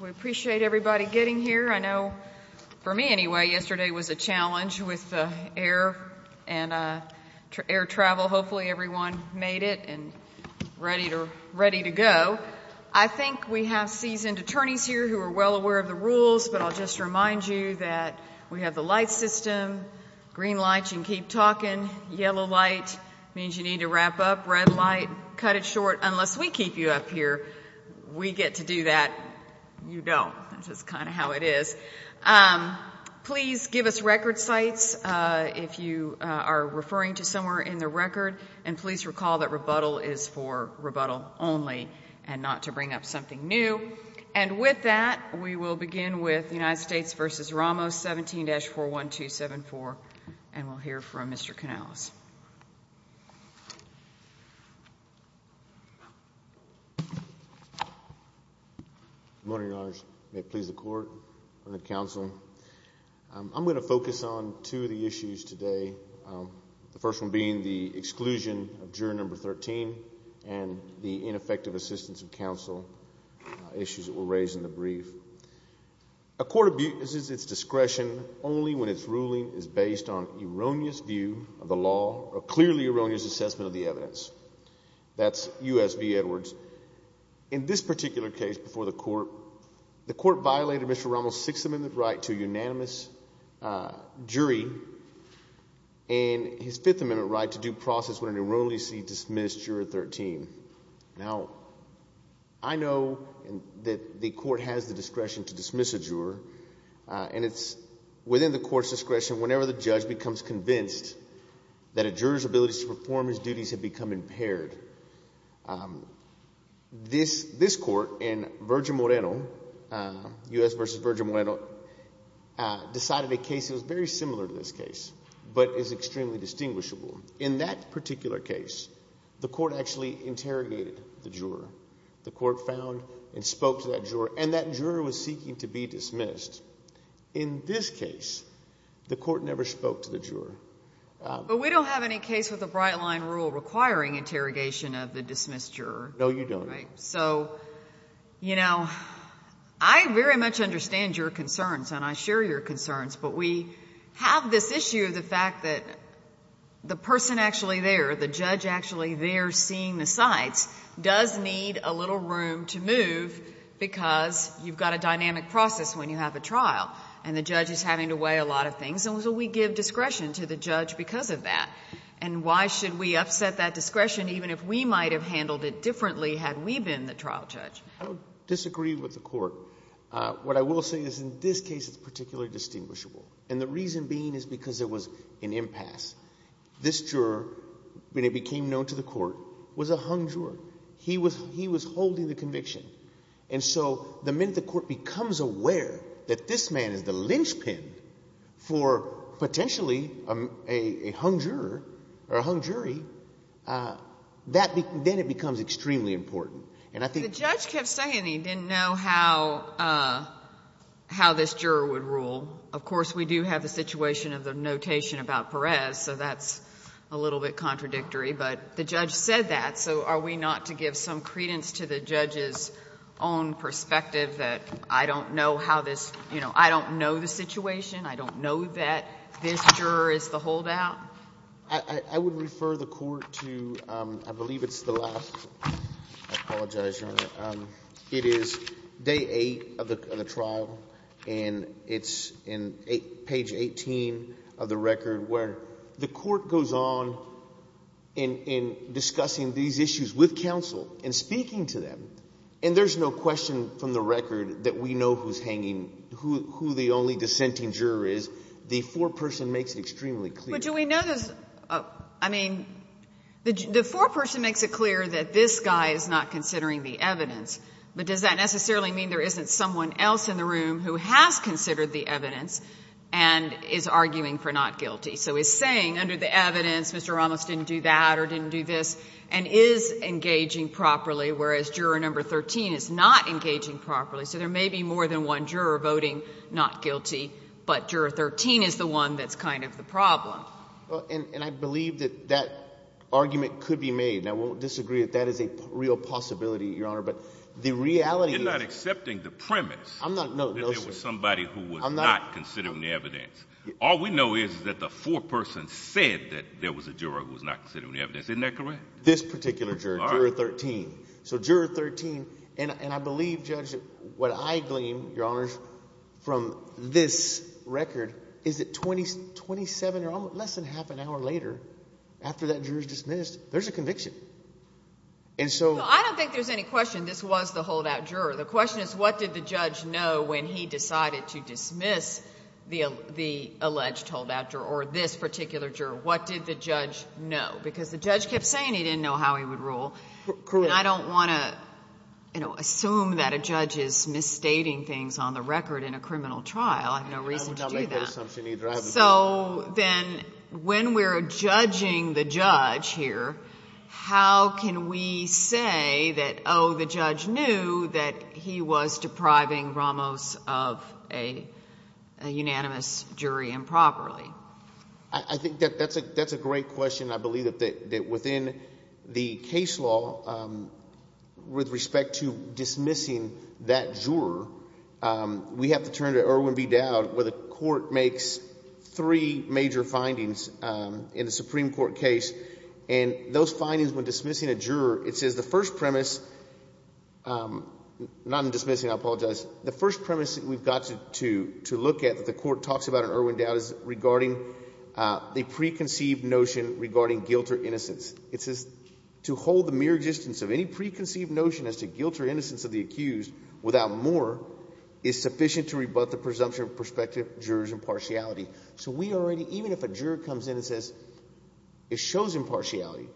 We appreciate everybody getting here. I know, for me anyway, yesterday was a challenge with the air and air travel. Hopefully everyone made it and ready to go. I think we have seasoned attorneys here who are well aware of the rules, but I'll just remind you that we have the light system, green light, you can keep talking, yellow light means you need to wrap up, red light, cut it short. Unless we keep you up here, we get to do that, you don't. That's just kind of how it is. Please give us record sites if you are referring to somewhere in the record, and please recall that rebuttal is for rebuttal only and not to bring up something new. And with that, we will begin with United States v. Ramos, 17-41274, and we'll hear from Mr. Canales. Good morning, Your Honors. May it please the Court and the counsel. I'm going to focus on two of the issues today, the first one being the exclusion of jury number 13 and the ineffective assistance of counsel issues that were raised in the brief. A court abuses its discretion only when its ruling is based on erroneous view of the law or clearly erroneous assessment of the evidence. That's U.S. v. Edwards. In this particular case before the Court, the Court violated Mr. Ramos' Sixth Amendment right to a unanimous jury and his Fifth Amendment right to due process when an erroneously dismissed juror 13. Now, I know that the Court has the discretion to dismiss a juror, and it's within the Court's discretion whenever the judge becomes convinced that a juror's ability to perform his duties has become impaired. This Court in Virgil Moreno, U.S. v. Virgil Moreno, decided a case that was very similar to this case but is extremely distinguishable. In that particular case, the Court actually interrogated the juror. The Court found and spoke to that juror, and that juror was seeking to be dismissed. In this case, the Court never spoke to the juror. But we don't have any case with a bright-line rule requiring interrogation of the dismissed juror. No, you don't. Right? So, you know, I very much understand your concerns, and I share your concerns, but we have this issue of the fact that the person actually there, the judge actually there seeing the sites, does need a little room to move because you've got a dynamic process when you have a trial and the judge is having to weigh a lot of things. And so we give discretion to the judge because of that. And why should we upset that discretion even if we might have handled it differently had we been the trial judge? I don't disagree with the Court. What I will say is in this case it's particularly distinguishable, and the reason being is because there was an impasse. This juror, when he became known to the Court, was a hung juror. He was holding the conviction. And so the minute the Court becomes aware that this man is the linchpin for potentially a hung juror or a hung jury, then it becomes extremely important. And I think the judge kept saying he didn't know how this juror would rule. Of course, we do have the situation of the notation about Perez, so that's a little bit contradictory. But the judge said that, so are we not to give some credence to the judge's own perspective that I don't know how this, you know, I don't know the situation, I don't know that this juror is the holdout? I would refer the Court to, I believe it's the last. I apologize, Your Honor. It is day eight of the trial, and it's in page 18 of the record where the Court goes on in discussing these issues with counsel and speaking to them, and there's no question from the record that we know who's hanging, who the only dissenting juror is. The foreperson makes it extremely clear. But do we know this? I mean, the foreperson makes it clear that this guy is not considering the evidence, but does that necessarily mean there isn't someone else in the room who has considered the evidence and is arguing for not guilty? So he's saying under the evidence Mr. Ramos didn't do that or didn't do this and is engaging properly, whereas juror number 13 is not engaging properly, so there may be more than one juror voting not guilty, but juror 13 is the one that's kind of the problem. And I believe that that argument could be made. I won't disagree that that is a real possibility, Your Honor, but the reality is – You're not accepting the premise that there was somebody who was not considering the evidence. All we know is that the foreperson said that there was a juror who was not considering the evidence. Isn't that correct? This particular juror, juror 13. So juror 13, and I believe, Judge, what I glean, Your Honors, from this record is that 27 or less than half an hour later, after that juror is dismissed, there's a conviction. And so – Well, I don't think there's any question this was the holdout juror. The question is what did the judge know when he decided to dismiss the alleged holdout juror or this particular juror? What did the judge know? Because the judge kept saying he didn't know how he would rule. Correct. And I don't want to assume that a judge is misstating things on the record in a criminal trial. I have no reason to do that. I would not make that assumption either. So then when we're judging the judge here, how can we say that, oh, the judge knew that he was depriving Ramos of a unanimous jury improperly? I think that's a great question. I believe that within the case law, with respect to dismissing that juror, we have to turn to Erwin B. Dowd, where the court makes three major findings in a Supreme Court case. And those findings, when dismissing a juror, it says the first premise – not in dismissing, I apologize. It says the first premise that we've got to look at that the court talks about in Erwin Dowd is regarding the preconceived notion regarding guilt or innocence. It says to hold the mere existence of any preconceived notion as to guilt or innocence of the accused without more is sufficient to rebut the presumption of prospective jurors' impartiality. So we already – even if a juror comes in and says it shows impartiality,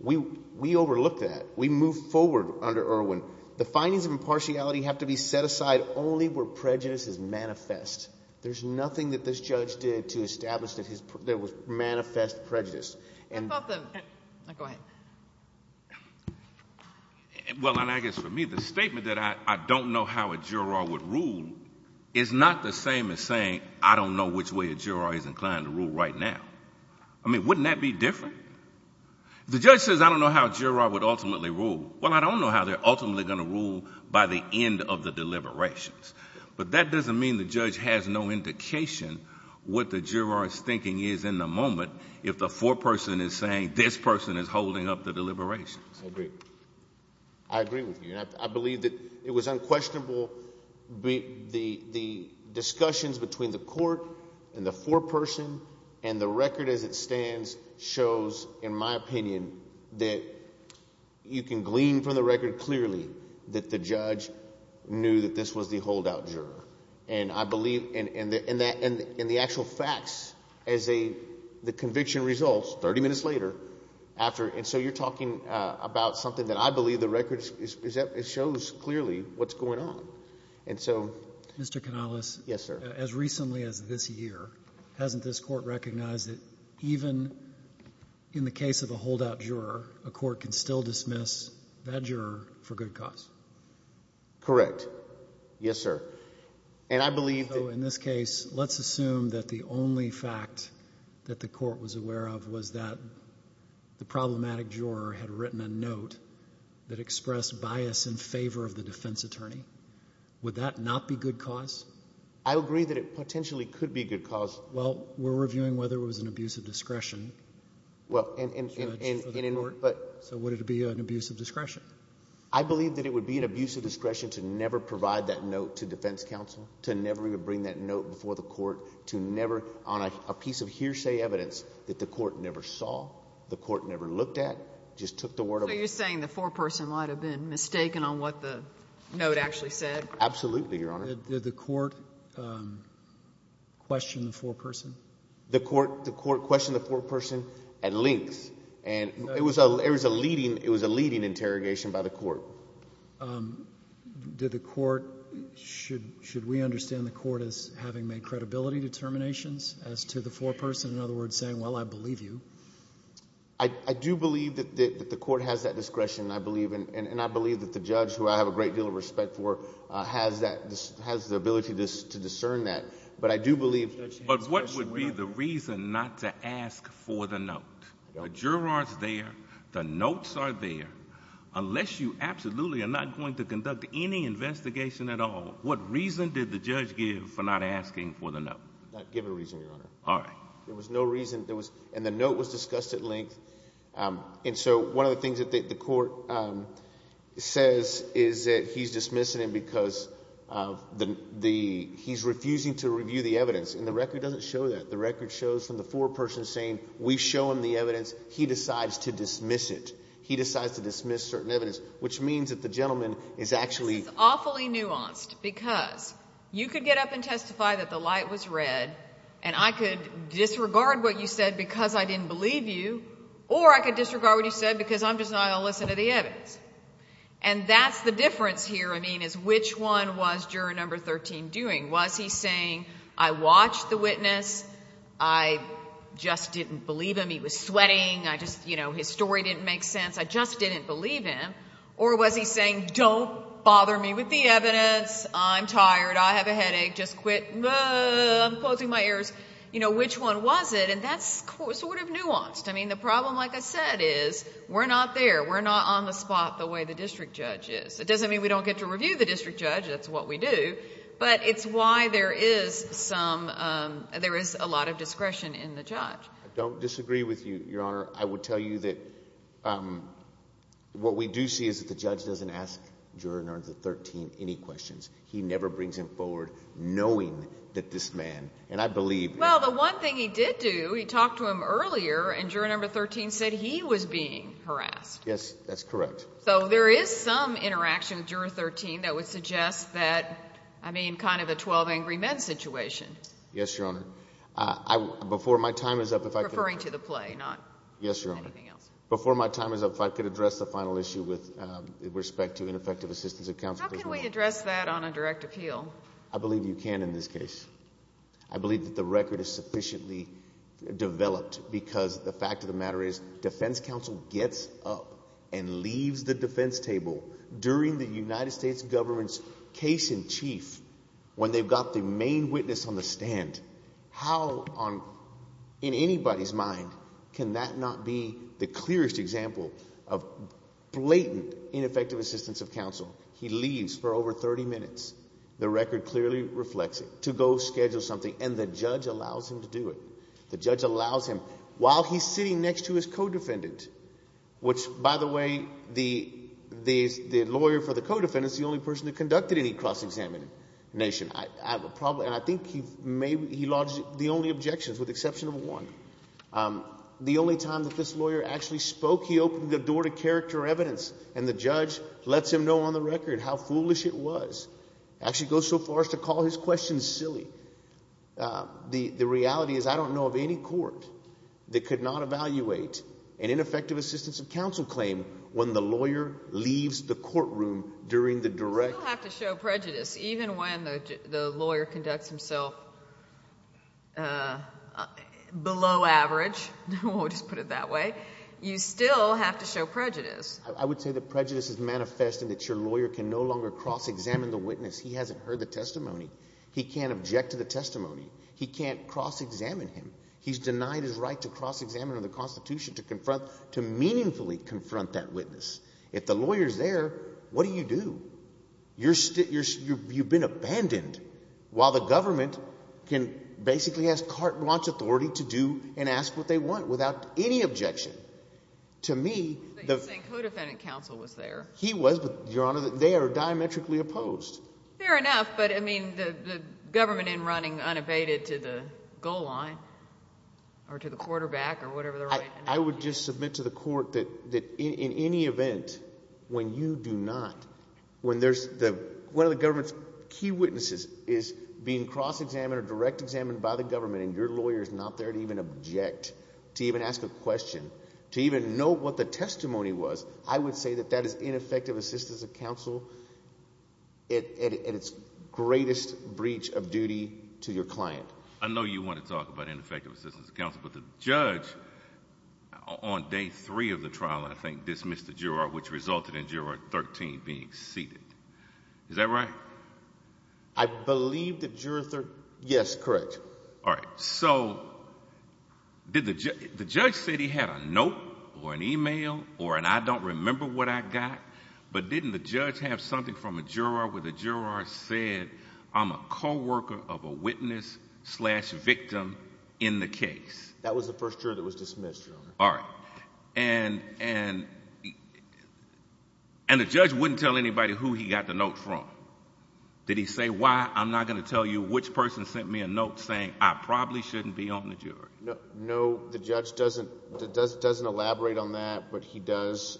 we overlook that. We move forward under Erwin. The findings of impartiality have to be set aside only where prejudice is manifest. There's nothing that this judge did to establish that there was manifest prejudice. How about the – go ahead. Well, and I guess for me the statement that I don't know how a juror would rule is not the same as saying I don't know which way a juror is inclined to rule right now. I mean, wouldn't that be different? The judge says I don't know how a juror would ultimately rule. Well, I don't know how they're ultimately going to rule by the end of the deliberations. But that doesn't mean the judge has no indication what the juror's thinking is in the moment if the foreperson is saying this person is holding up the deliberations. I agree. I agree with you. And I believe that it was unquestionable. The discussions between the court and the foreperson and the record as it stands shows, in my opinion, that you can glean from the record clearly that the judge knew that this was the holdout juror. And I believe – and the actual facts as a – the conviction results 30 minutes later after. And so you're talking about something that I believe the record – it shows clearly what's going on. And so – Mr. Canales. Yes, sir. As recently as this year, hasn't this court recognized that even in the case of a holdout juror, a court can still dismiss that juror for good cause? Correct. Yes, sir. And I believe that – If a holdout juror had written a note that expressed bias in favor of the defense attorney, would that not be good cause? I agree that it potentially could be good cause. Well, we're reviewing whether it was an abuse of discretion. Well, and in – So would it be an abuse of discretion? I believe that it would be an abuse of discretion to never provide that note to defense counsel, to never even bring that note before the court, to never – on a piece of hearsay evidence that the court never saw, the court never looked at, just took the word of it. So you're saying the foreperson might have been mistaken on what the note actually said? Absolutely, Your Honor. Did the court question the foreperson? The court questioned the foreperson at length, and it was a leading interrogation by the court. Did the court – should we understand the court as having made credibility determinations as to the foreperson, in other words, saying, well, I believe you? I do believe that the court has that discretion, and I believe that the judge, who I have a great deal of respect for, has the ability to discern that. But I do believe – But what would be the reason not to ask for the note? The juror is there. The notes are there. Unless you absolutely are not going to conduct any investigation at all, what reason did the judge give for not asking for the note? Not give a reason, Your Honor. All right. There was no reason. And the note was discussed at length. And so one of the things that the court says is that he's dismissing him because he's refusing to review the evidence, and the record doesn't show that. The record shows from the foreperson saying we've shown the evidence. He decides to dismiss it. He decides to dismiss certain evidence, which means that the gentleman is actually – This is awfully nuanced because you could get up and testify that the light was red, and I could disregard what you said because I didn't believe you, or I could disregard what you said because I'm just not going to listen to the evidence. And that's the difference here, I mean, is which one was juror number 13 doing? Was he saying, I watched the witness. I just didn't believe him. He was sweating. I just – his story didn't make sense. I just didn't believe him. Or was he saying, don't bother me with the evidence. I'm tired. I have a headache. Just quit. I'm closing my ears. Which one was it? And that's sort of nuanced. I mean, the problem, like I said, is we're not there. We're not on the spot the way the district judge is. It doesn't mean we don't get to review the district judge. That's what we do. But it's why there is some – there is a lot of discretion in the judge. I don't disagree with you, Your Honor. I will tell you that what we do see is that the judge doesn't ask juror number 13 any questions. He never brings him forward knowing that this man, and I believe – Well, the one thing he did do, he talked to him earlier, and juror number 13 said he was being harassed. Yes, that's correct. So there is some interaction with juror 13 that would suggest that, I mean, kind of a 12 angry men situation. Yes, Your Honor. Before my time is up, if I could – Referring to the play, not anything else. Yes, Your Honor. Before my time is up, if I could address the final issue with respect to ineffective assistance of counsel. How can we address that on a direct appeal? I believe you can in this case. I believe that the record is sufficiently developed because the fact of the matter is defense counsel gets up and leaves the defense table during the United States government's case in chief when they've got the main witness on the stand. How on – in anybody's mind can that not be the clearest example of blatant ineffective assistance of counsel? He leaves for over 30 minutes. The record clearly reflects it, to go schedule something, and the judge allows him to do it. The judge allows him while he's sitting next to his co-defendant, which, by the way, the lawyer for the co-defendant is the only person that conducted any cross-examination. I have a problem, and I think he lodged the only objections with the exception of one. The only time that this lawyer actually spoke, he opened the door to character evidence, and the judge lets him know on the record how foolish it was, actually goes so far as to call his questions silly. The reality is I don't know of any court that could not evaluate an ineffective assistance of counsel claim when the lawyer leaves the courtroom during the direct – You still have to show prejudice even when the lawyer conducts himself below average. We'll just put it that way. You still have to show prejudice. I would say that prejudice is manifesting that your lawyer can no longer cross-examine the witness. He hasn't heard the testimony. He can't object to the testimony. He can't cross-examine him. He's denied his right to cross-examine under the Constitution to confront – to meaningfully confront that witness. If the lawyer's there, what do you do? You've been abandoned while the government can – basically has carte blanche authority to do and ask what they want without any objection. To me, the – But you're saying co-defendant counsel was there. He was, but, Your Honor, they are diametrically opposed. Fair enough, but, I mean, the government in running unabated to the goal line or to the quarterback or whatever the right – I would just submit to the court that in any event, when you do not – when there's the – one of the government's key witnesses is being cross-examined or direct-examined by the government and your lawyer's not there to even object, to even ask a question, to even know what the testimony was, I would say that that is ineffective assistance of counsel at its greatest breach of duty to your client. I know you want to talk about ineffective assistance of counsel, but the judge on day three of the trial, I think, dismissed the juror, which resulted in Juror 13 being seated. Is that right? I believe that Juror 13 – yes, correct. All right. So did the – the judge said he had a note or an email or an I don't remember what I got, but didn't the judge have something from a juror where the juror said I'm a co-worker of a witness slash victim in the case? That was the first juror that was dismissed, Your Honor. All right. And the judge wouldn't tell anybody who he got the note from. Did he say why? I'm not going to tell you which person sent me a note saying I probably shouldn't be on the jury. No, the judge doesn't elaborate on that, but he does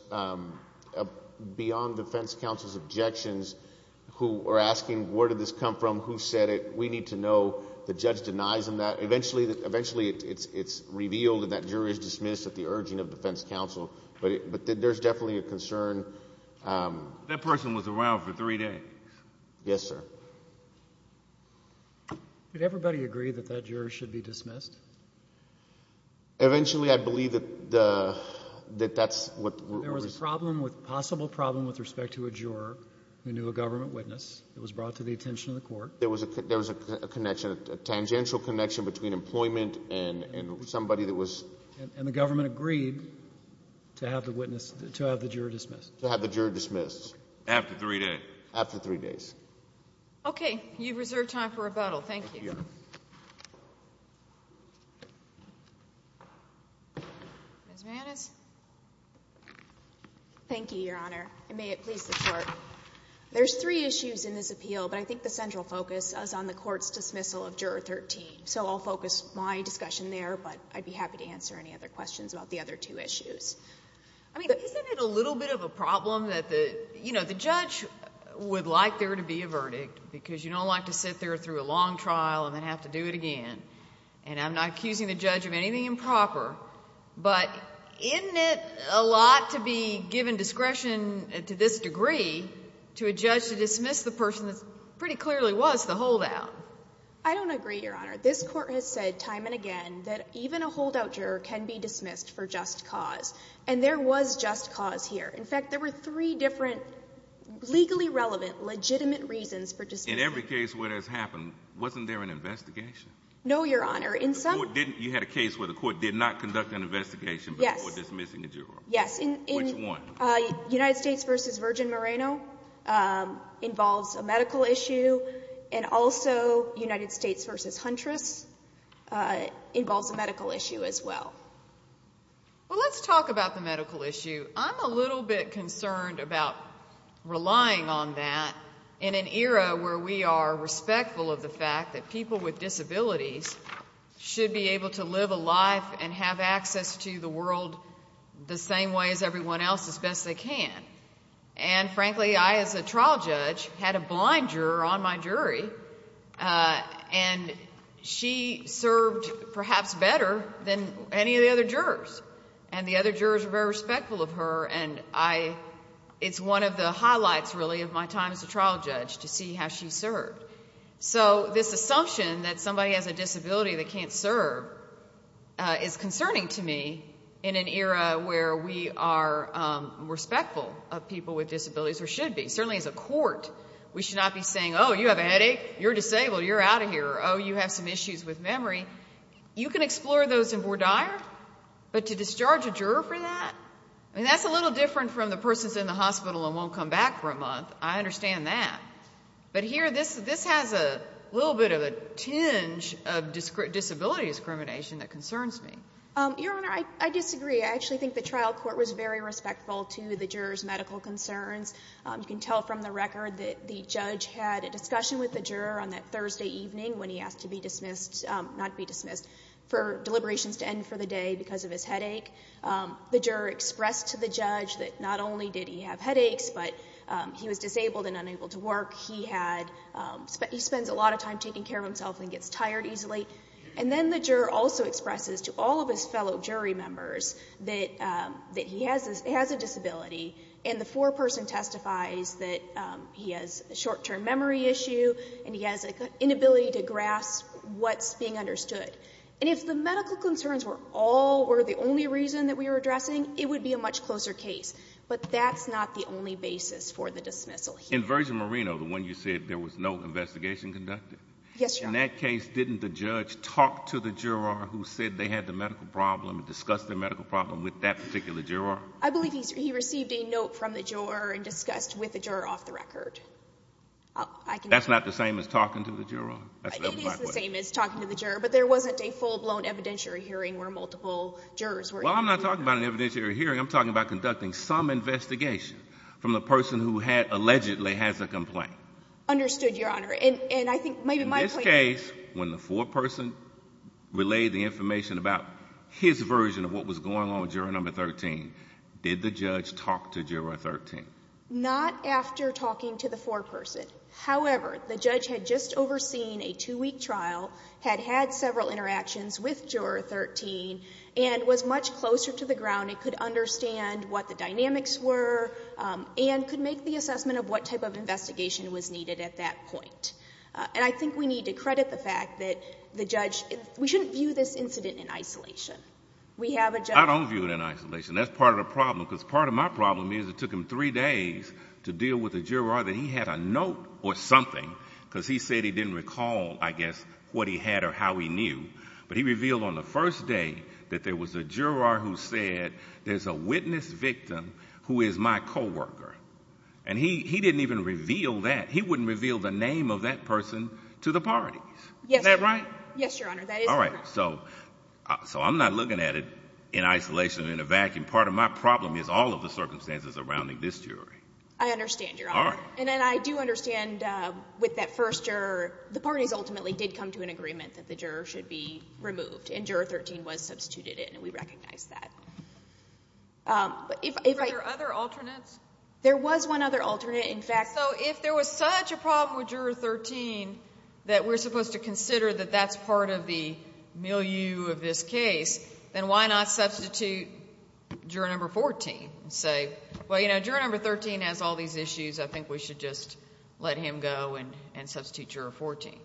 beyond defense counsel's objections who are asking where did this come from, who said it. We need to know. The judge denies him that. Eventually, it's revealed and that jury is dismissed at the urging of defense counsel, but there's definitely a concern. That person was around for three days. Yes, sir. Did everybody agree that that juror should be dismissed? Eventually, I believe that that's what – There was a problem with – possible problem with respect to a juror who knew a government witness. It was brought to the attention of the court. There was a connection, a tangential connection between employment and somebody that was – And the government agreed to have the witness – to have the juror dismissed. To have the juror dismissed. After three days. After three days. Okay. You've reserved time for rebuttal. Thank you. Thank you, Your Honor. Ms. Mannis. Thank you, Your Honor, and may it please the Court. There's three issues in this appeal, but I think the central focus is on the court's dismissal of Juror 13. So I'll focus my discussion there, but I'd be happy to answer any other questions about the other two issues. I mean, isn't it a little bit of a problem that the – you know, the judge would like there to be a verdict because you don't like to sit there through a long trial and then have to do it again, and I'm not accusing the judge of anything improper, but isn't it a lot to be given discretion to this degree to a judge to dismiss the person that pretty clearly was the holdout? I don't agree, Your Honor. This Court has said time and again that even a holdout juror can be dismissed for just cause, and there was just cause here. In fact, there were three different legally relevant legitimate reasons for dismissing. In every case where that's happened, wasn't there an investigation? No, Your Honor. In some – You had a case where the Court did not conduct an investigation, but the Court dismissing a juror. Yes. Which one? United States v. Virgin Moreno involves a medical issue, and also United States v. Huntress involves a medical issue as well. Well, let's talk about the medical issue. I'm a little bit concerned about relying on that in an era where we are respectful of the fact that people with disabilities should be able to live a life and have access to the world the same way as everyone else as best they can. And frankly, I as a trial judge had a blind juror on my jury, and she served perhaps better than any of the other jurors, and the other jurors were very respectful of her, and it's one of the highlights, really, of my time as a trial judge to see how she served. So this assumption that somebody has a disability and they can't serve is concerning to me in an era where we are respectful of people with disabilities, or should be. Certainly as a court, we should not be saying, oh, you have a headache, you're disabled, you're out of here, or oh, you have some issues with memory. You can explore those in voir dire, but to discharge a juror for that? I mean, that's a little different from the person's in the hospital and won't come back for a month. I understand that. But here, this has a little bit of a tinge of disability discrimination that concerns me. Your Honor, I disagree. I actually think the trial court was very respectful to the juror's medical concerns. You can tell from the record that the judge had a discussion with the juror on that Thursday evening when he asked to be dismissed, not be dismissed, for deliberations to end for the day because of his headache. The juror expressed to the judge that not only did he have headaches, but he was disabled and unable to work. He spends a lot of time taking care of himself and gets tired easily. And then the juror also expresses to all of his fellow jury members that he has a disability, and the foreperson testifies that he has a short-term memory issue and he has an inability to grasp what's being understood. And if the medical concerns were the only reason that we were addressing, it would be a much closer case. But that's not the only basis for the dismissal here. Inversion Marino, the one you said there was no investigation conducted? Yes, Your Honor. In that case, didn't the judge talk to the juror who said they had the medical problem and discuss their medical problem with that particular juror? I believe he received a note from the juror and discussed with the juror off the record. That's not the same as talking to the juror? It is the same as talking to the juror, but there wasn't a full-blown evidentiary hearing where multiple jurors were. Well, I'm not talking about an evidentiary hearing. I'm talking about conducting some investigation from the person who allegedly has a complaint. Understood, Your Honor. In this case, when the foreperson relayed the information about his version of what was going on with juror number 13, did the judge talk to juror 13? Not after talking to the foreperson. However, the judge had just overseen a two-week trial, had had several interactions with juror 13, and was much closer to the ground and could understand what the dynamics were and could make the assessment of what type of investigation was needed at that point. And I think we need to credit the fact that the judge, we shouldn't view this incident in isolation. I don't view it in isolation. That's part of the problem, because part of my problem is it took him three days to deal with the juror, that he had a note or something, because he said he didn't recall, I guess, what he had or how he knew. But he revealed on the first day that there was a juror who said there's a witness victim who is my coworker. And he didn't even reveal that. He wouldn't reveal the name of that person to the parties. Is that right? Yes, Your Honor. That is correct. All right. So I'm not looking at it in isolation, in a vacuum. Part of my problem is all of the circumstances surrounding this jury. I understand, Your Honor. All right. And then I do understand with that first juror, the parties ultimately did come to an agreement that the juror should be removed, and Juror 13 was substituted in, and we recognize that. Were there other alternates? There was one other alternate, in fact. So if there was such a problem with Juror 13 that we're supposed to consider that that's part of the milieu of this case, then why not substitute Juror 14 and say, well, you know, Juror 13 has all these issues. I think we should just let him go and substitute Juror 14.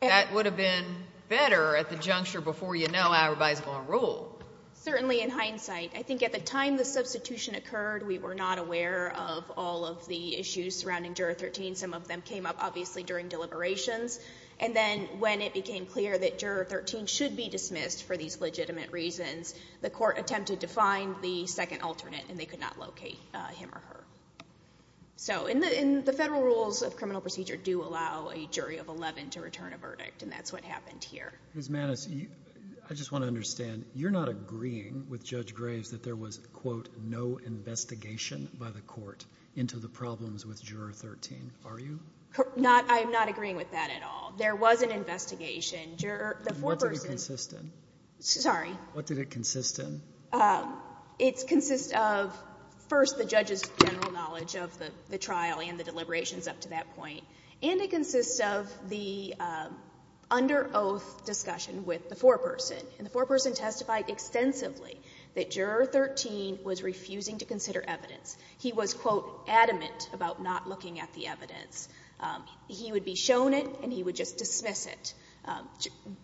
That would have been better at the juncture before you know how everybody is going to rule. Certainly in hindsight. I think at the time the substitution occurred, we were not aware of all of the issues surrounding Juror 13. Some of them came up, obviously, during deliberations. And then when it became clear that Juror 13 should be dismissed for these legitimate reasons, the court attempted to find the second alternate, and they could not locate him or her. So the federal rules of criminal procedure do allow a jury of 11 to return a verdict, and that's what happened here. Ms. Maness, I just want to understand. You're not agreeing with Judge Graves that there was, quote, no investigation by the court into the problems with Juror 13, are you? I'm not agreeing with that at all. There was an investigation. And what did it consist in? Sorry? What did it consist in? It consists of, first, the judge's general knowledge of the trial and the deliberations up to that point. And it consists of the under oath discussion with the foreperson. And the foreperson testified extensively that Juror 13 was refusing to consider evidence. He was, quote, adamant about not looking at the evidence. He would be shown it and he would just dismiss it.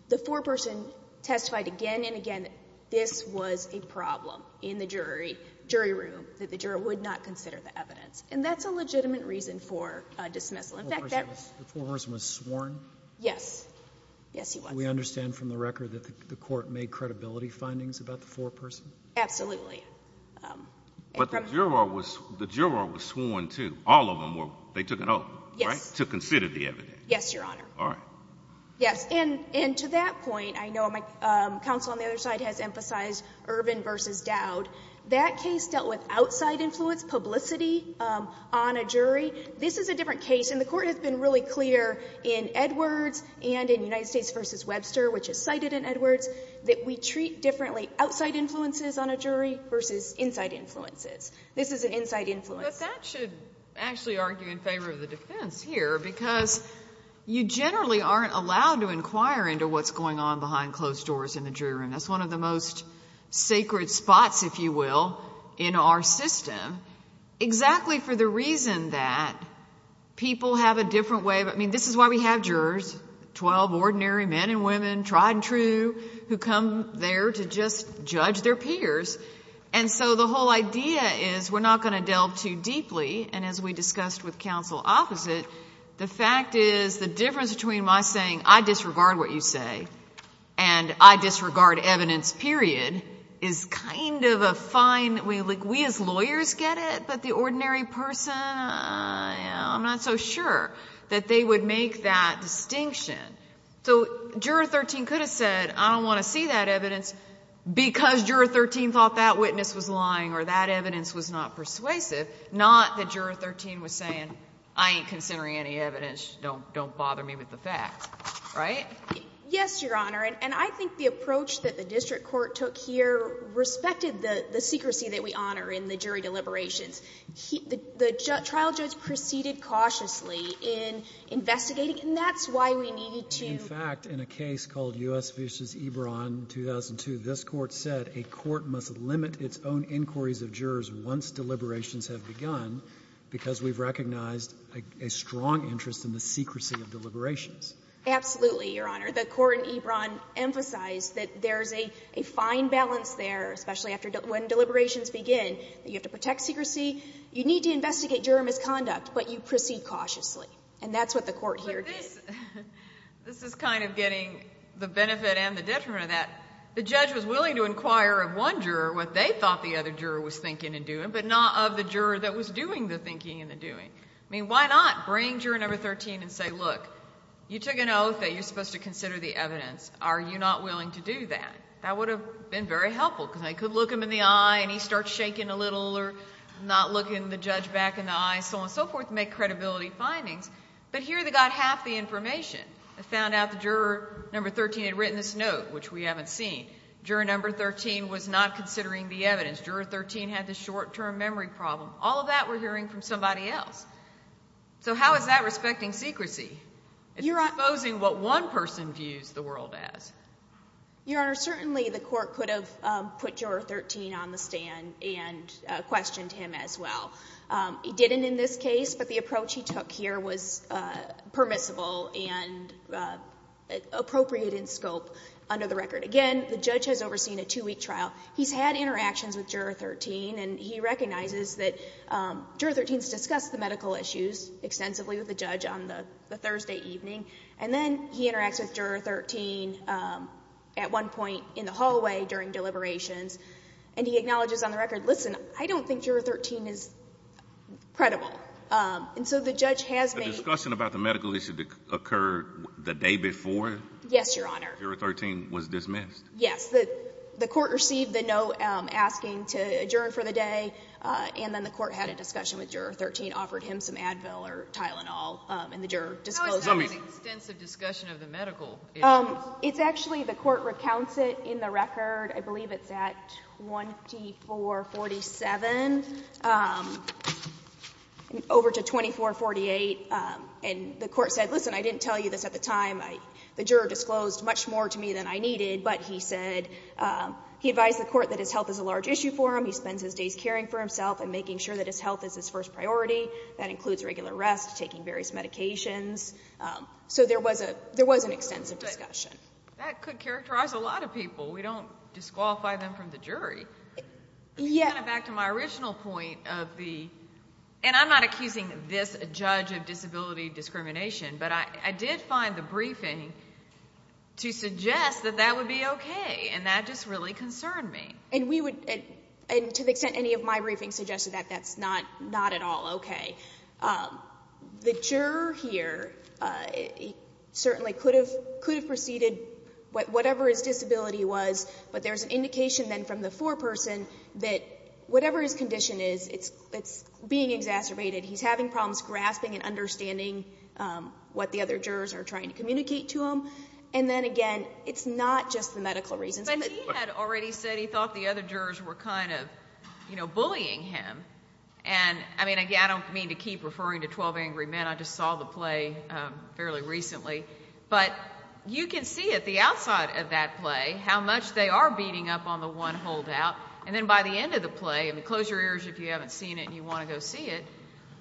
The foreperson testified again and again that this was a problem in the jury, jury room, that the juror would not consider the evidence. And that's a legitimate reason for dismissal. In fact, that's the case. The foreperson was sworn? Yes. Yes, he was. Do we understand from the record that the court made credibility findings about the foreperson? Absolutely. But the juror was sworn, too. All of them were. They took an oath, right? Yes. To consider the evidence. Yes, Your Honor. All right. Yes. And to that point, I know my counsel on the other side has emphasized Ervin v. Dowd. That case dealt with outside influence, publicity on a jury. This is a different case. And the court has been really clear in Edwards and in United States v. Webster, which is cited in Edwards, that we treat differently outside influences on a jury versus inside influences. This is an inside influence. But that should actually argue in favor of the defense here because you generally aren't allowed to inquire into what's going on behind closed doors in the jury room. That's one of the most sacred spots, if you will, in our system. Exactly for the reason that people have a different way of – I mean, this is why we have jurors, 12 ordinary men and women, tried and true, who come there to just judge their peers. And so the whole idea is we're not going to delve too deeply. And as we discussed with counsel opposite, the fact is the difference between my saying, I disregard what you say and I disregard evidence, period, is kind of a fine – we as lawyers get it, but the ordinary person, I'm not so sure, that they would make that distinction. So Juror 13 could have said, I don't want to see that evidence, because Juror 13 thought that witness was lying or that evidence was not persuasive, not that Juror 13 was saying, I ain't considering any evidence, don't bother me with the facts. Right? Yes, Your Honor, and I think the approach that the district court took here respected the secrecy that we honor in the jury deliberations. The trial judge proceeded cautiously in investigating, and that's why we needed to – In fact, in a case called U.S. v. Ebron, 2002, this Court said, a court must limit its own inquiries of jurors once deliberations have begun, because we've recognized a strong interest in the secrecy of deliberations. Absolutely, Your Honor. The court in Ebron emphasized that there's a fine balance there, especially when deliberations begin, that you have to protect secrecy. You need to investigate juror misconduct, but you proceed cautiously, and that's what the Court here did. But this is kind of getting the benefit and the detriment of that. The judge was willing to inquire of one juror what they thought the other juror was thinking and doing, but not of the juror that was doing the thinking and the doing. I mean, why not bring Juror 13 and say, look, you took an oath that you're supposed to consider the evidence. Are you not willing to do that? That would have been very helpful, because I could look him in the eye and he starts shaking a little or not looking the judge back in the eye, so on and so forth, make credibility findings. But here they got half the information. They found out that Juror 13 had written this note, which we haven't seen. Juror 13 was not considering the evidence. Juror 13 had this short-term memory problem. All of that we're hearing from somebody else. So how is that respecting secrecy? It's exposing what one person views the world as. Your Honor, certainly the court could have put Juror 13 on the stand and questioned him as well. It didn't in this case, but the approach he took here was permissible and appropriate in scope under the record. Again, the judge has overseen a two-week trial. He's had interactions with Juror 13, and he recognizes that Juror 13 has discussed the medical issues extensively with the judge on the Thursday evening, and then he interacts with Juror 13 at one point in the hallway during deliberations, and he acknowledges on the record, listen, I don't think Juror 13 is credible. And so the judge has made — A discussion about the medical issue occurred the day before? Yes, Your Honor. Juror 13 was dismissed? Yes. The court received the note asking to adjourn for the day, and then the court had a discussion with Juror 13, offered him some Advil or Tylenol, and the juror disclosed — How is that an extensive discussion of the medical issues? It's actually — the court recounts it in the record. I believe it's at 2447, over to 2448. And the court said, listen, I didn't tell you this at the time. The juror disclosed much more to me than I needed. But he said — he advised the court that his health is a large issue for him. He spends his days caring for himself and making sure that his health is his first priority. That includes regular rest, taking various medications. So there was an extensive discussion. That could characterize a lot of people. We don't disqualify them from the jury. Yeah. Kind of back to my original point of the — and I'm not accusing this judge of disability discrimination, but I did find the briefing to suggest that that would be okay, and that just really concerned me. And we would — and to the extent any of my briefings suggested that, that's not at all okay. The juror here certainly could have preceded whatever his disability was, but there's an indication then from the foreperson that whatever his condition is, it's being exacerbated. He's having problems grasping and understanding what the other jurors are trying to communicate to him. And then again, it's not just the medical reasons. But he had already said he thought the other jurors were kind of, you know, bullying him. And, I mean, again, I don't mean to keep referring to 12 Angry Men. I just saw the play fairly recently. But you can see at the outside of that play how much they are beating up on the one holdout. And then by the end of the play, and close your ears if you haven't seen it and you want to go see it,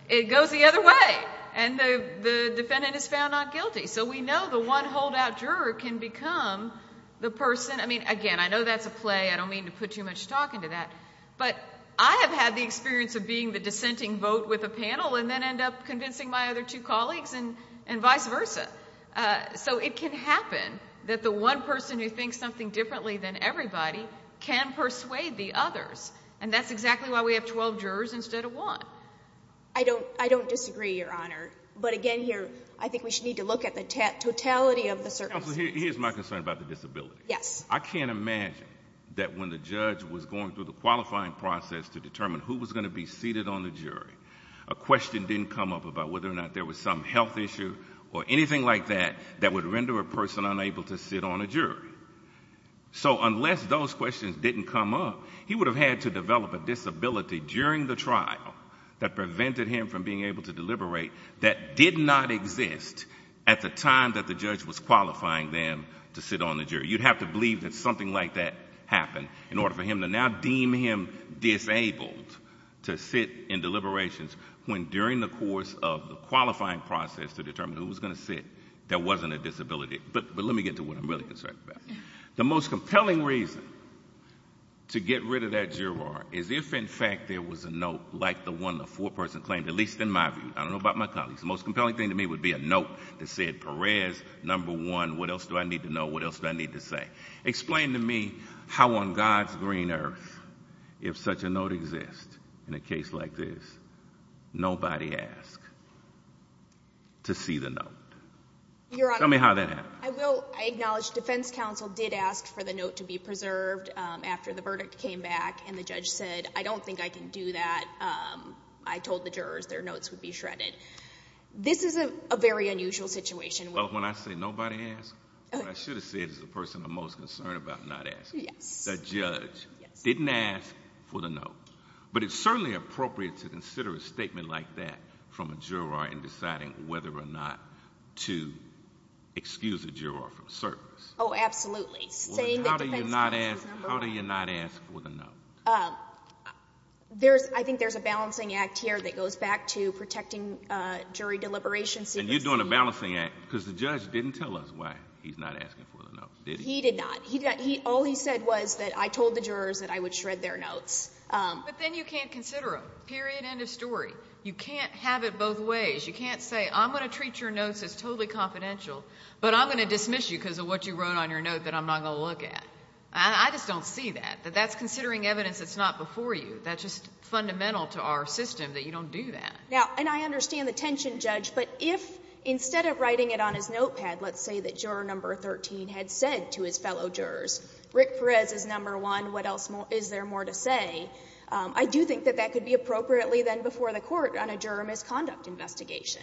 it goes the other way, and the defendant is found not guilty. So we know the one holdout juror can become the person — I mean, again, I know that's a play. I don't mean to put too much talk into that. But I have had the experience of being the dissenting vote with a panel and then end up convincing my other two colleagues and vice versa. So it can happen that the one person who thinks something differently than everybody can persuade the others. And that's exactly why we have 12 jurors instead of one. I don't disagree, Your Honor. But, again, here, I think we should need to look at the totality of the circumstances. Counsel, here's my concern about the disability. Yes. I can't imagine that when the judge was going through the qualifying process to determine who was going to be seated on the jury, a question didn't come up about whether or not there was some health issue or anything like that that would render a person unable to sit on a jury. So unless those questions didn't come up, he would have had to develop a disability during the trial that prevented him from being able to deliberate that did not exist at the time that the judge was qualifying them to sit on the jury. You'd have to believe that something like that happened in order for him to now deem him disabled to sit in deliberations when during the course of the qualifying process to determine who was going to sit, there wasn't a disability. But let me get to what I'm really concerned about. The most compelling reason to get rid of that juror is if, in fact, there was a note like the one the foreperson claimed, at least in my view. I don't know about my colleagues. The most compelling thing to me would be a note that said Perez, number one. What else do I need to know? What else do I need to say? Explain to me how on God's green earth, if such a note exists in a case like this, nobody asked to see the note. Your Honor. Tell me how that happened. I will. I acknowledge defense counsel did ask for the note to be preserved after the verdict came back and the judge said, I don't think I can do that. I told the jurors their notes would be shredded. This is a very unusual situation. Well, when I say nobody asked, what I should have said is the person I'm most concerned about not asking. The judge didn't ask for the note. But it's certainly appropriate to consider a statement like that from a juror in deciding whether or not to excuse a juror from service. Oh, absolutely. How do you not ask for the note? I think there's a balancing act here that goes back to protecting jury deliberation. And you're doing a balancing act because the judge didn't tell us why he's not asking for the note, did he? He did not. All he said was that I told the jurors that I would shred their notes. But then you can't consider them, period, end of story. You can't have it both ways. You can't say, I'm going to treat your notes as totally confidential, but I'm going to dismiss you because of what you wrote on your note that I'm not going to look at. I just don't see that. That's considering evidence that's not before you. That's just fundamental to our system that you don't do that. Now, and I understand the tension, Judge, but if instead of writing it on his notepad, let's say that juror number 13 had said to his fellow jurors, Rick Perez is number one, what else is there more to say, I do think that that could be appropriately then before the court on a juror misconduct investigation.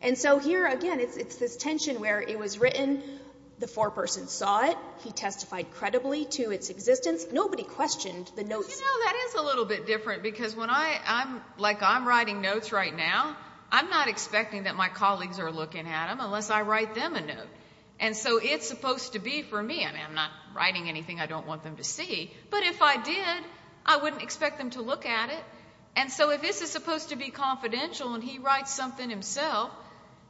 And so here, again, it's this tension where it was written, the foreperson saw it, he testified credibly to its existence, nobody questioned the notes. You know, that is a little bit different because when I'm, like, I'm writing notes right now, I'm not expecting that my colleagues are looking at them unless I write them a note. And so it's supposed to be for me. I mean, I'm not writing anything I don't want them to see. But if I did, I wouldn't expect them to look at it. And so if this is supposed to be confidential and he writes something himself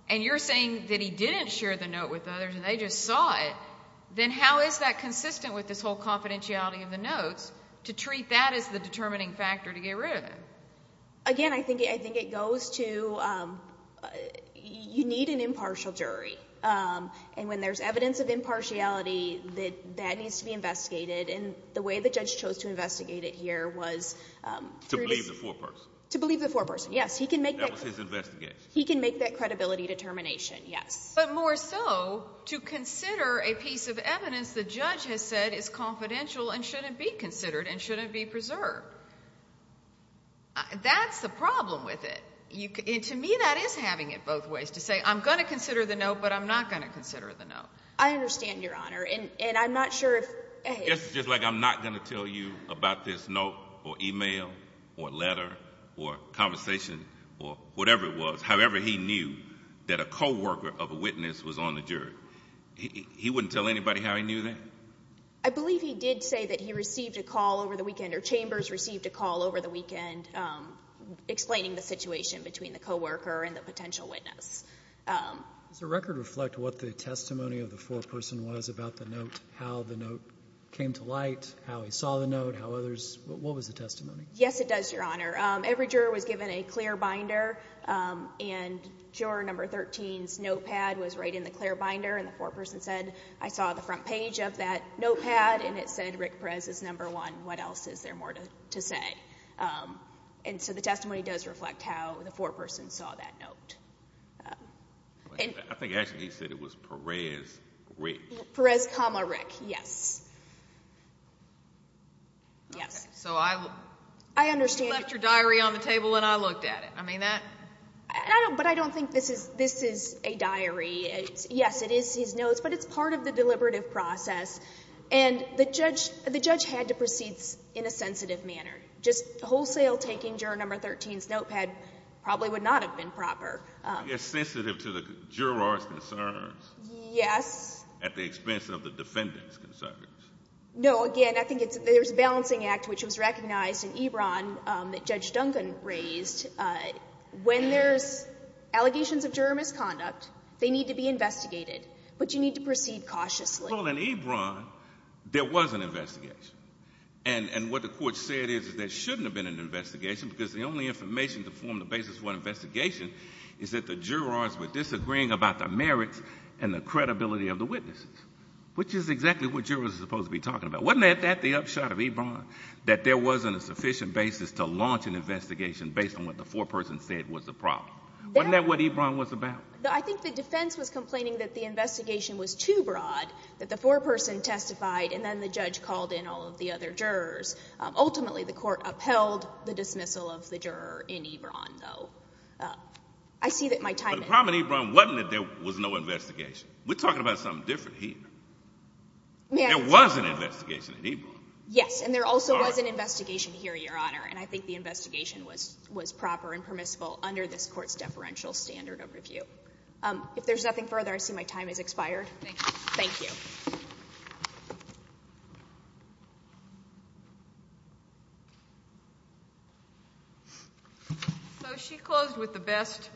and you're saying that he didn't share the note with others and they just saw it, then how is that consistent with this whole confidentiality of the notes to treat that as the determining factor to get rid of it? Again, I think it goes to you need an impartial jury. And when there's evidence of impartiality, that needs to be investigated. And the way the judge chose to investigate it here was through this. To believe the foreperson. To believe the foreperson, yes. He can make that. That was his investigation. He can make that credibility determination, yes. But more so to consider a piece of evidence the judge has said is confidential and shouldn't be considered and shouldn't be preserved. That's the problem with it. And to me that is having it both ways, to say I'm going to consider the note, but I'm not going to consider the note. I understand, Your Honor. And I'm not sure if. It's just like I'm not going to tell you about this note or email or letter or conversation or whatever it was, however he knew that a co-worker of a witness was on the jury. He wouldn't tell anybody how he knew that? I believe he did say that he received a call over the weekend or Chambers received a call over the weekend explaining the situation between the co-worker and the potential witness. Does the record reflect what the testimony of the foreperson was about the note, how the note came to light, how he saw the note, how others? What was the testimony? Yes, it does, Your Honor. Every juror was given a clear binder, and juror number 13's notepad was right in the clear binder, and the foreperson said, I saw the front page of that notepad, and it said Rick Perez is number one. What else is there more to say? And so the testimony does reflect how the foreperson saw that note. I think actually he said it was Perez, Rick. Perez, Rick, yes. Yes. So I left your diary on the table and I looked at it. But I don't think this is a diary. Yes, it is his notes, but it's part of the deliberative process, and the judge had to proceed in a sensitive manner. Just wholesale taking juror number 13's notepad probably would not have been proper. It's sensitive to the juror's concerns. Yes. At the expense of the defendant's concerns. No, again, I think there's a balancing act, which was recognized in EBRON that Judge Duncan raised. When there's allegations of juror misconduct, they need to be investigated, but you need to proceed cautiously. Well, in EBRON, there was an investigation. And what the court said is there shouldn't have been an investigation because the only information to form the basis for an investigation is that the jurors were disagreeing about the merits and the credibility of the witnesses, which is exactly what jurors are supposed to be talking about. Wasn't that the upshot of EBRON, that there wasn't a sufficient basis to launch an investigation based on what the foreperson said was the problem? Wasn't that what EBRON was about? I think the defense was complaining that the investigation was too broad that the foreperson testified and then the judge called in all of the other jurors. Ultimately, the court upheld the dismissal of the juror in EBRON, though. I see that my time is up. But the problem in EBRON wasn't that there was no investigation. We're talking about something different here. There was an investigation in EBRON. Yes, and there also was an investigation here, Your Honor, and I think the investigation was proper and permissible under this court's deferential standard of review. If there's nothing further, I see my time has expired. Thank you. She closed with the best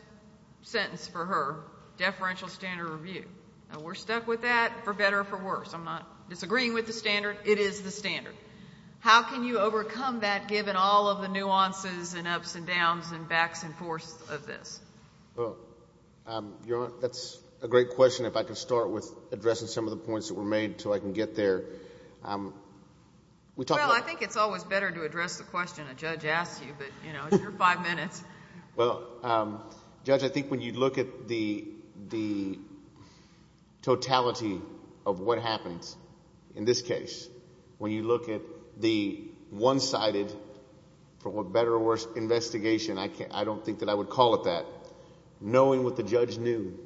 sentence for her, deferential standard of review. We're stuck with that for better or for worse. I'm not disagreeing with the standard. It is the standard. How can you overcome that given all of the nuances and ups and downs and backs and forths of this? Your Honor, that's a great question. If I could start with addressing some of the points that were made until I can get there. Well, I think it's always better to address the question a judge asks you, but you're five minutes. Well, Judge, I think when you look at the totality of what happens in this case, when you look at the one-sided, for better or worse, investigation, I don't think that I would call it that, knowing what the judge knew,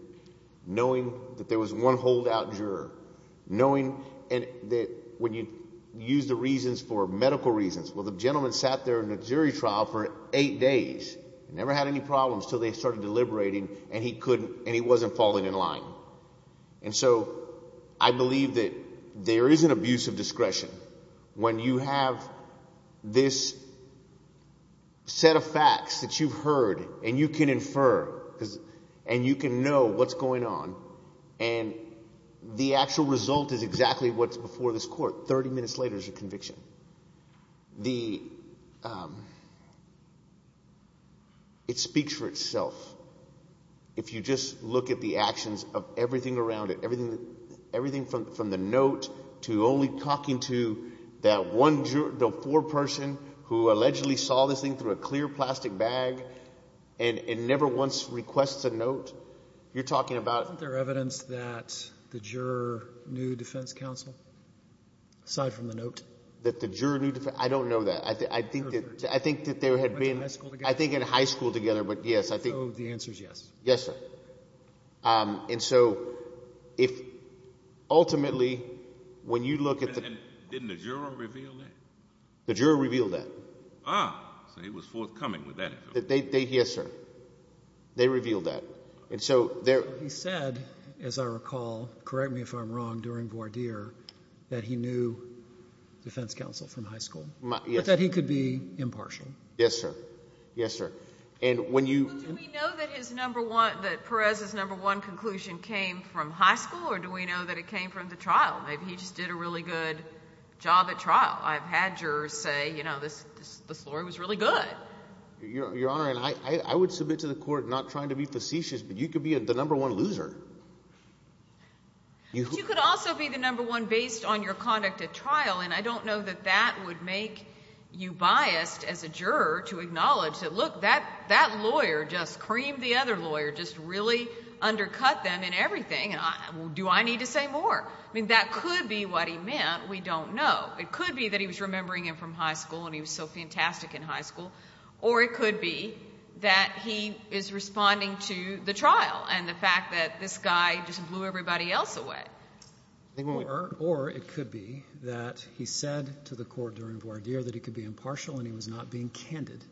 knowing that there was one holdout juror, knowing that when you use the reasons for medical reasons. Well, the gentleman sat there in a jury trial for eight days and never had any problems until they started deliberating and he wasn't falling in line. So I believe that there is an abuse of discretion. When you have this set of facts that you've heard and you can infer and you can know what's going on and the actual result is exactly what's before this court, 30 minutes later is your conviction. It speaks for itself. If you just look at the actions of everything around it, everything from the note to only talking to that one juror, the foreperson who allegedly saw this thing through a clear plastic bag and never once requests a note, you're talking about... Isn't there evidence that the juror knew defense counsel aside from the note? That the juror knew defense... I don't know that. I think that there had been... Went to high school together? I think in high school together, but yes, I think... So the answer is yes? Yes, sir. And so if ultimately when you look at the... Didn't the juror reveal that? The juror revealed that. Ah, so he was forthcoming with that. Yes, sir. They revealed that. He said, as I recall, correct me if I'm wrong, during voir dire, that he knew defense counsel from high school, but that he could be impartial. Yes, sir. Yes, sir. And when you... Well, do we know that Perez's number one conclusion came from high school, or do we know that it came from the trial? Maybe he just did a really good job at trial. I've had jurors say, you know, this lawyer was really good. Your Honor, I would submit to the court not trying to be facetious, but you could be the number one loser. But you could also be the number one based on your conduct at trial, and I don't know that that would make you biased as a juror to acknowledge that, look, that lawyer just creamed the other lawyer, just really undercut them in everything, and do I need to say more? I mean, that could be what he meant. We don't know. It could be that he was remembering him from high school and he was so fantastic in high school, or it could be that he is responding to the trial and the fact that this guy just blew everybody else away. Or it could be that he said to the court during voir dire that he could be impartial and he was not being candid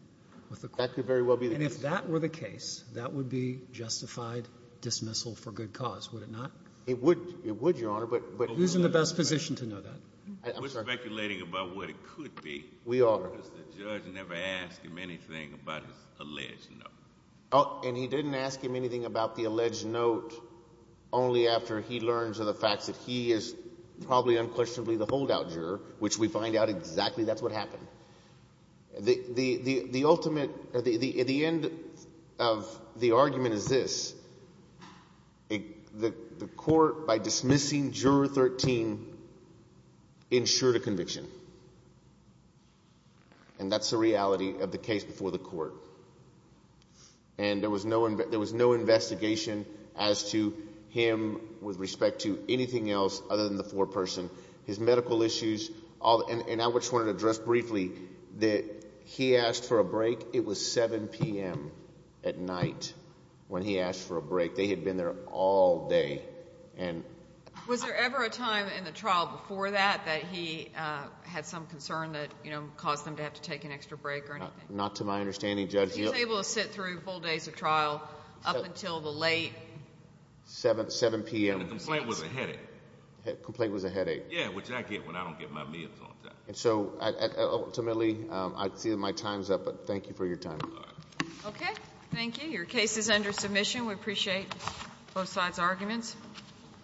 with the court. That could very well be the case. And if that were the case, that would be justified dismissal for good cause, would it not? It would, Your Honor, but who's in the best position to know that? We're speculating about what it could be. We are. Because the judge never asked him anything about his alleged note. And he didn't ask him anything about the alleged note only after he learns of the fact that he is probably unquestionably the holdout juror, which we find out exactly that's what happened. The ultimate, the end of the argument is this. The court, by dismissing Juror 13, ensured a conviction. And that's the reality of the case before the court. And there was no investigation as to him with respect to anything else other than the foreperson. His medical issues, and I just wanted to address briefly that he asked for a break. It was 7 p.m. at night when he asked for a break. They had been there all day. Was there ever a time in the trial before that that he had some concern that, you know, caused them to have to take an extra break or anything? Not to my understanding, Judge. He was able to sit through full days of trial up until the late 7 p.m. And the complaint was a headache. Complaint was a headache. Yeah, which I get when I don't get my meds on time. And so, ultimately, I feel my time's up, but thank you for your time. Okay. Thank you. Your case is under submission. We appreciate both sides' arguments.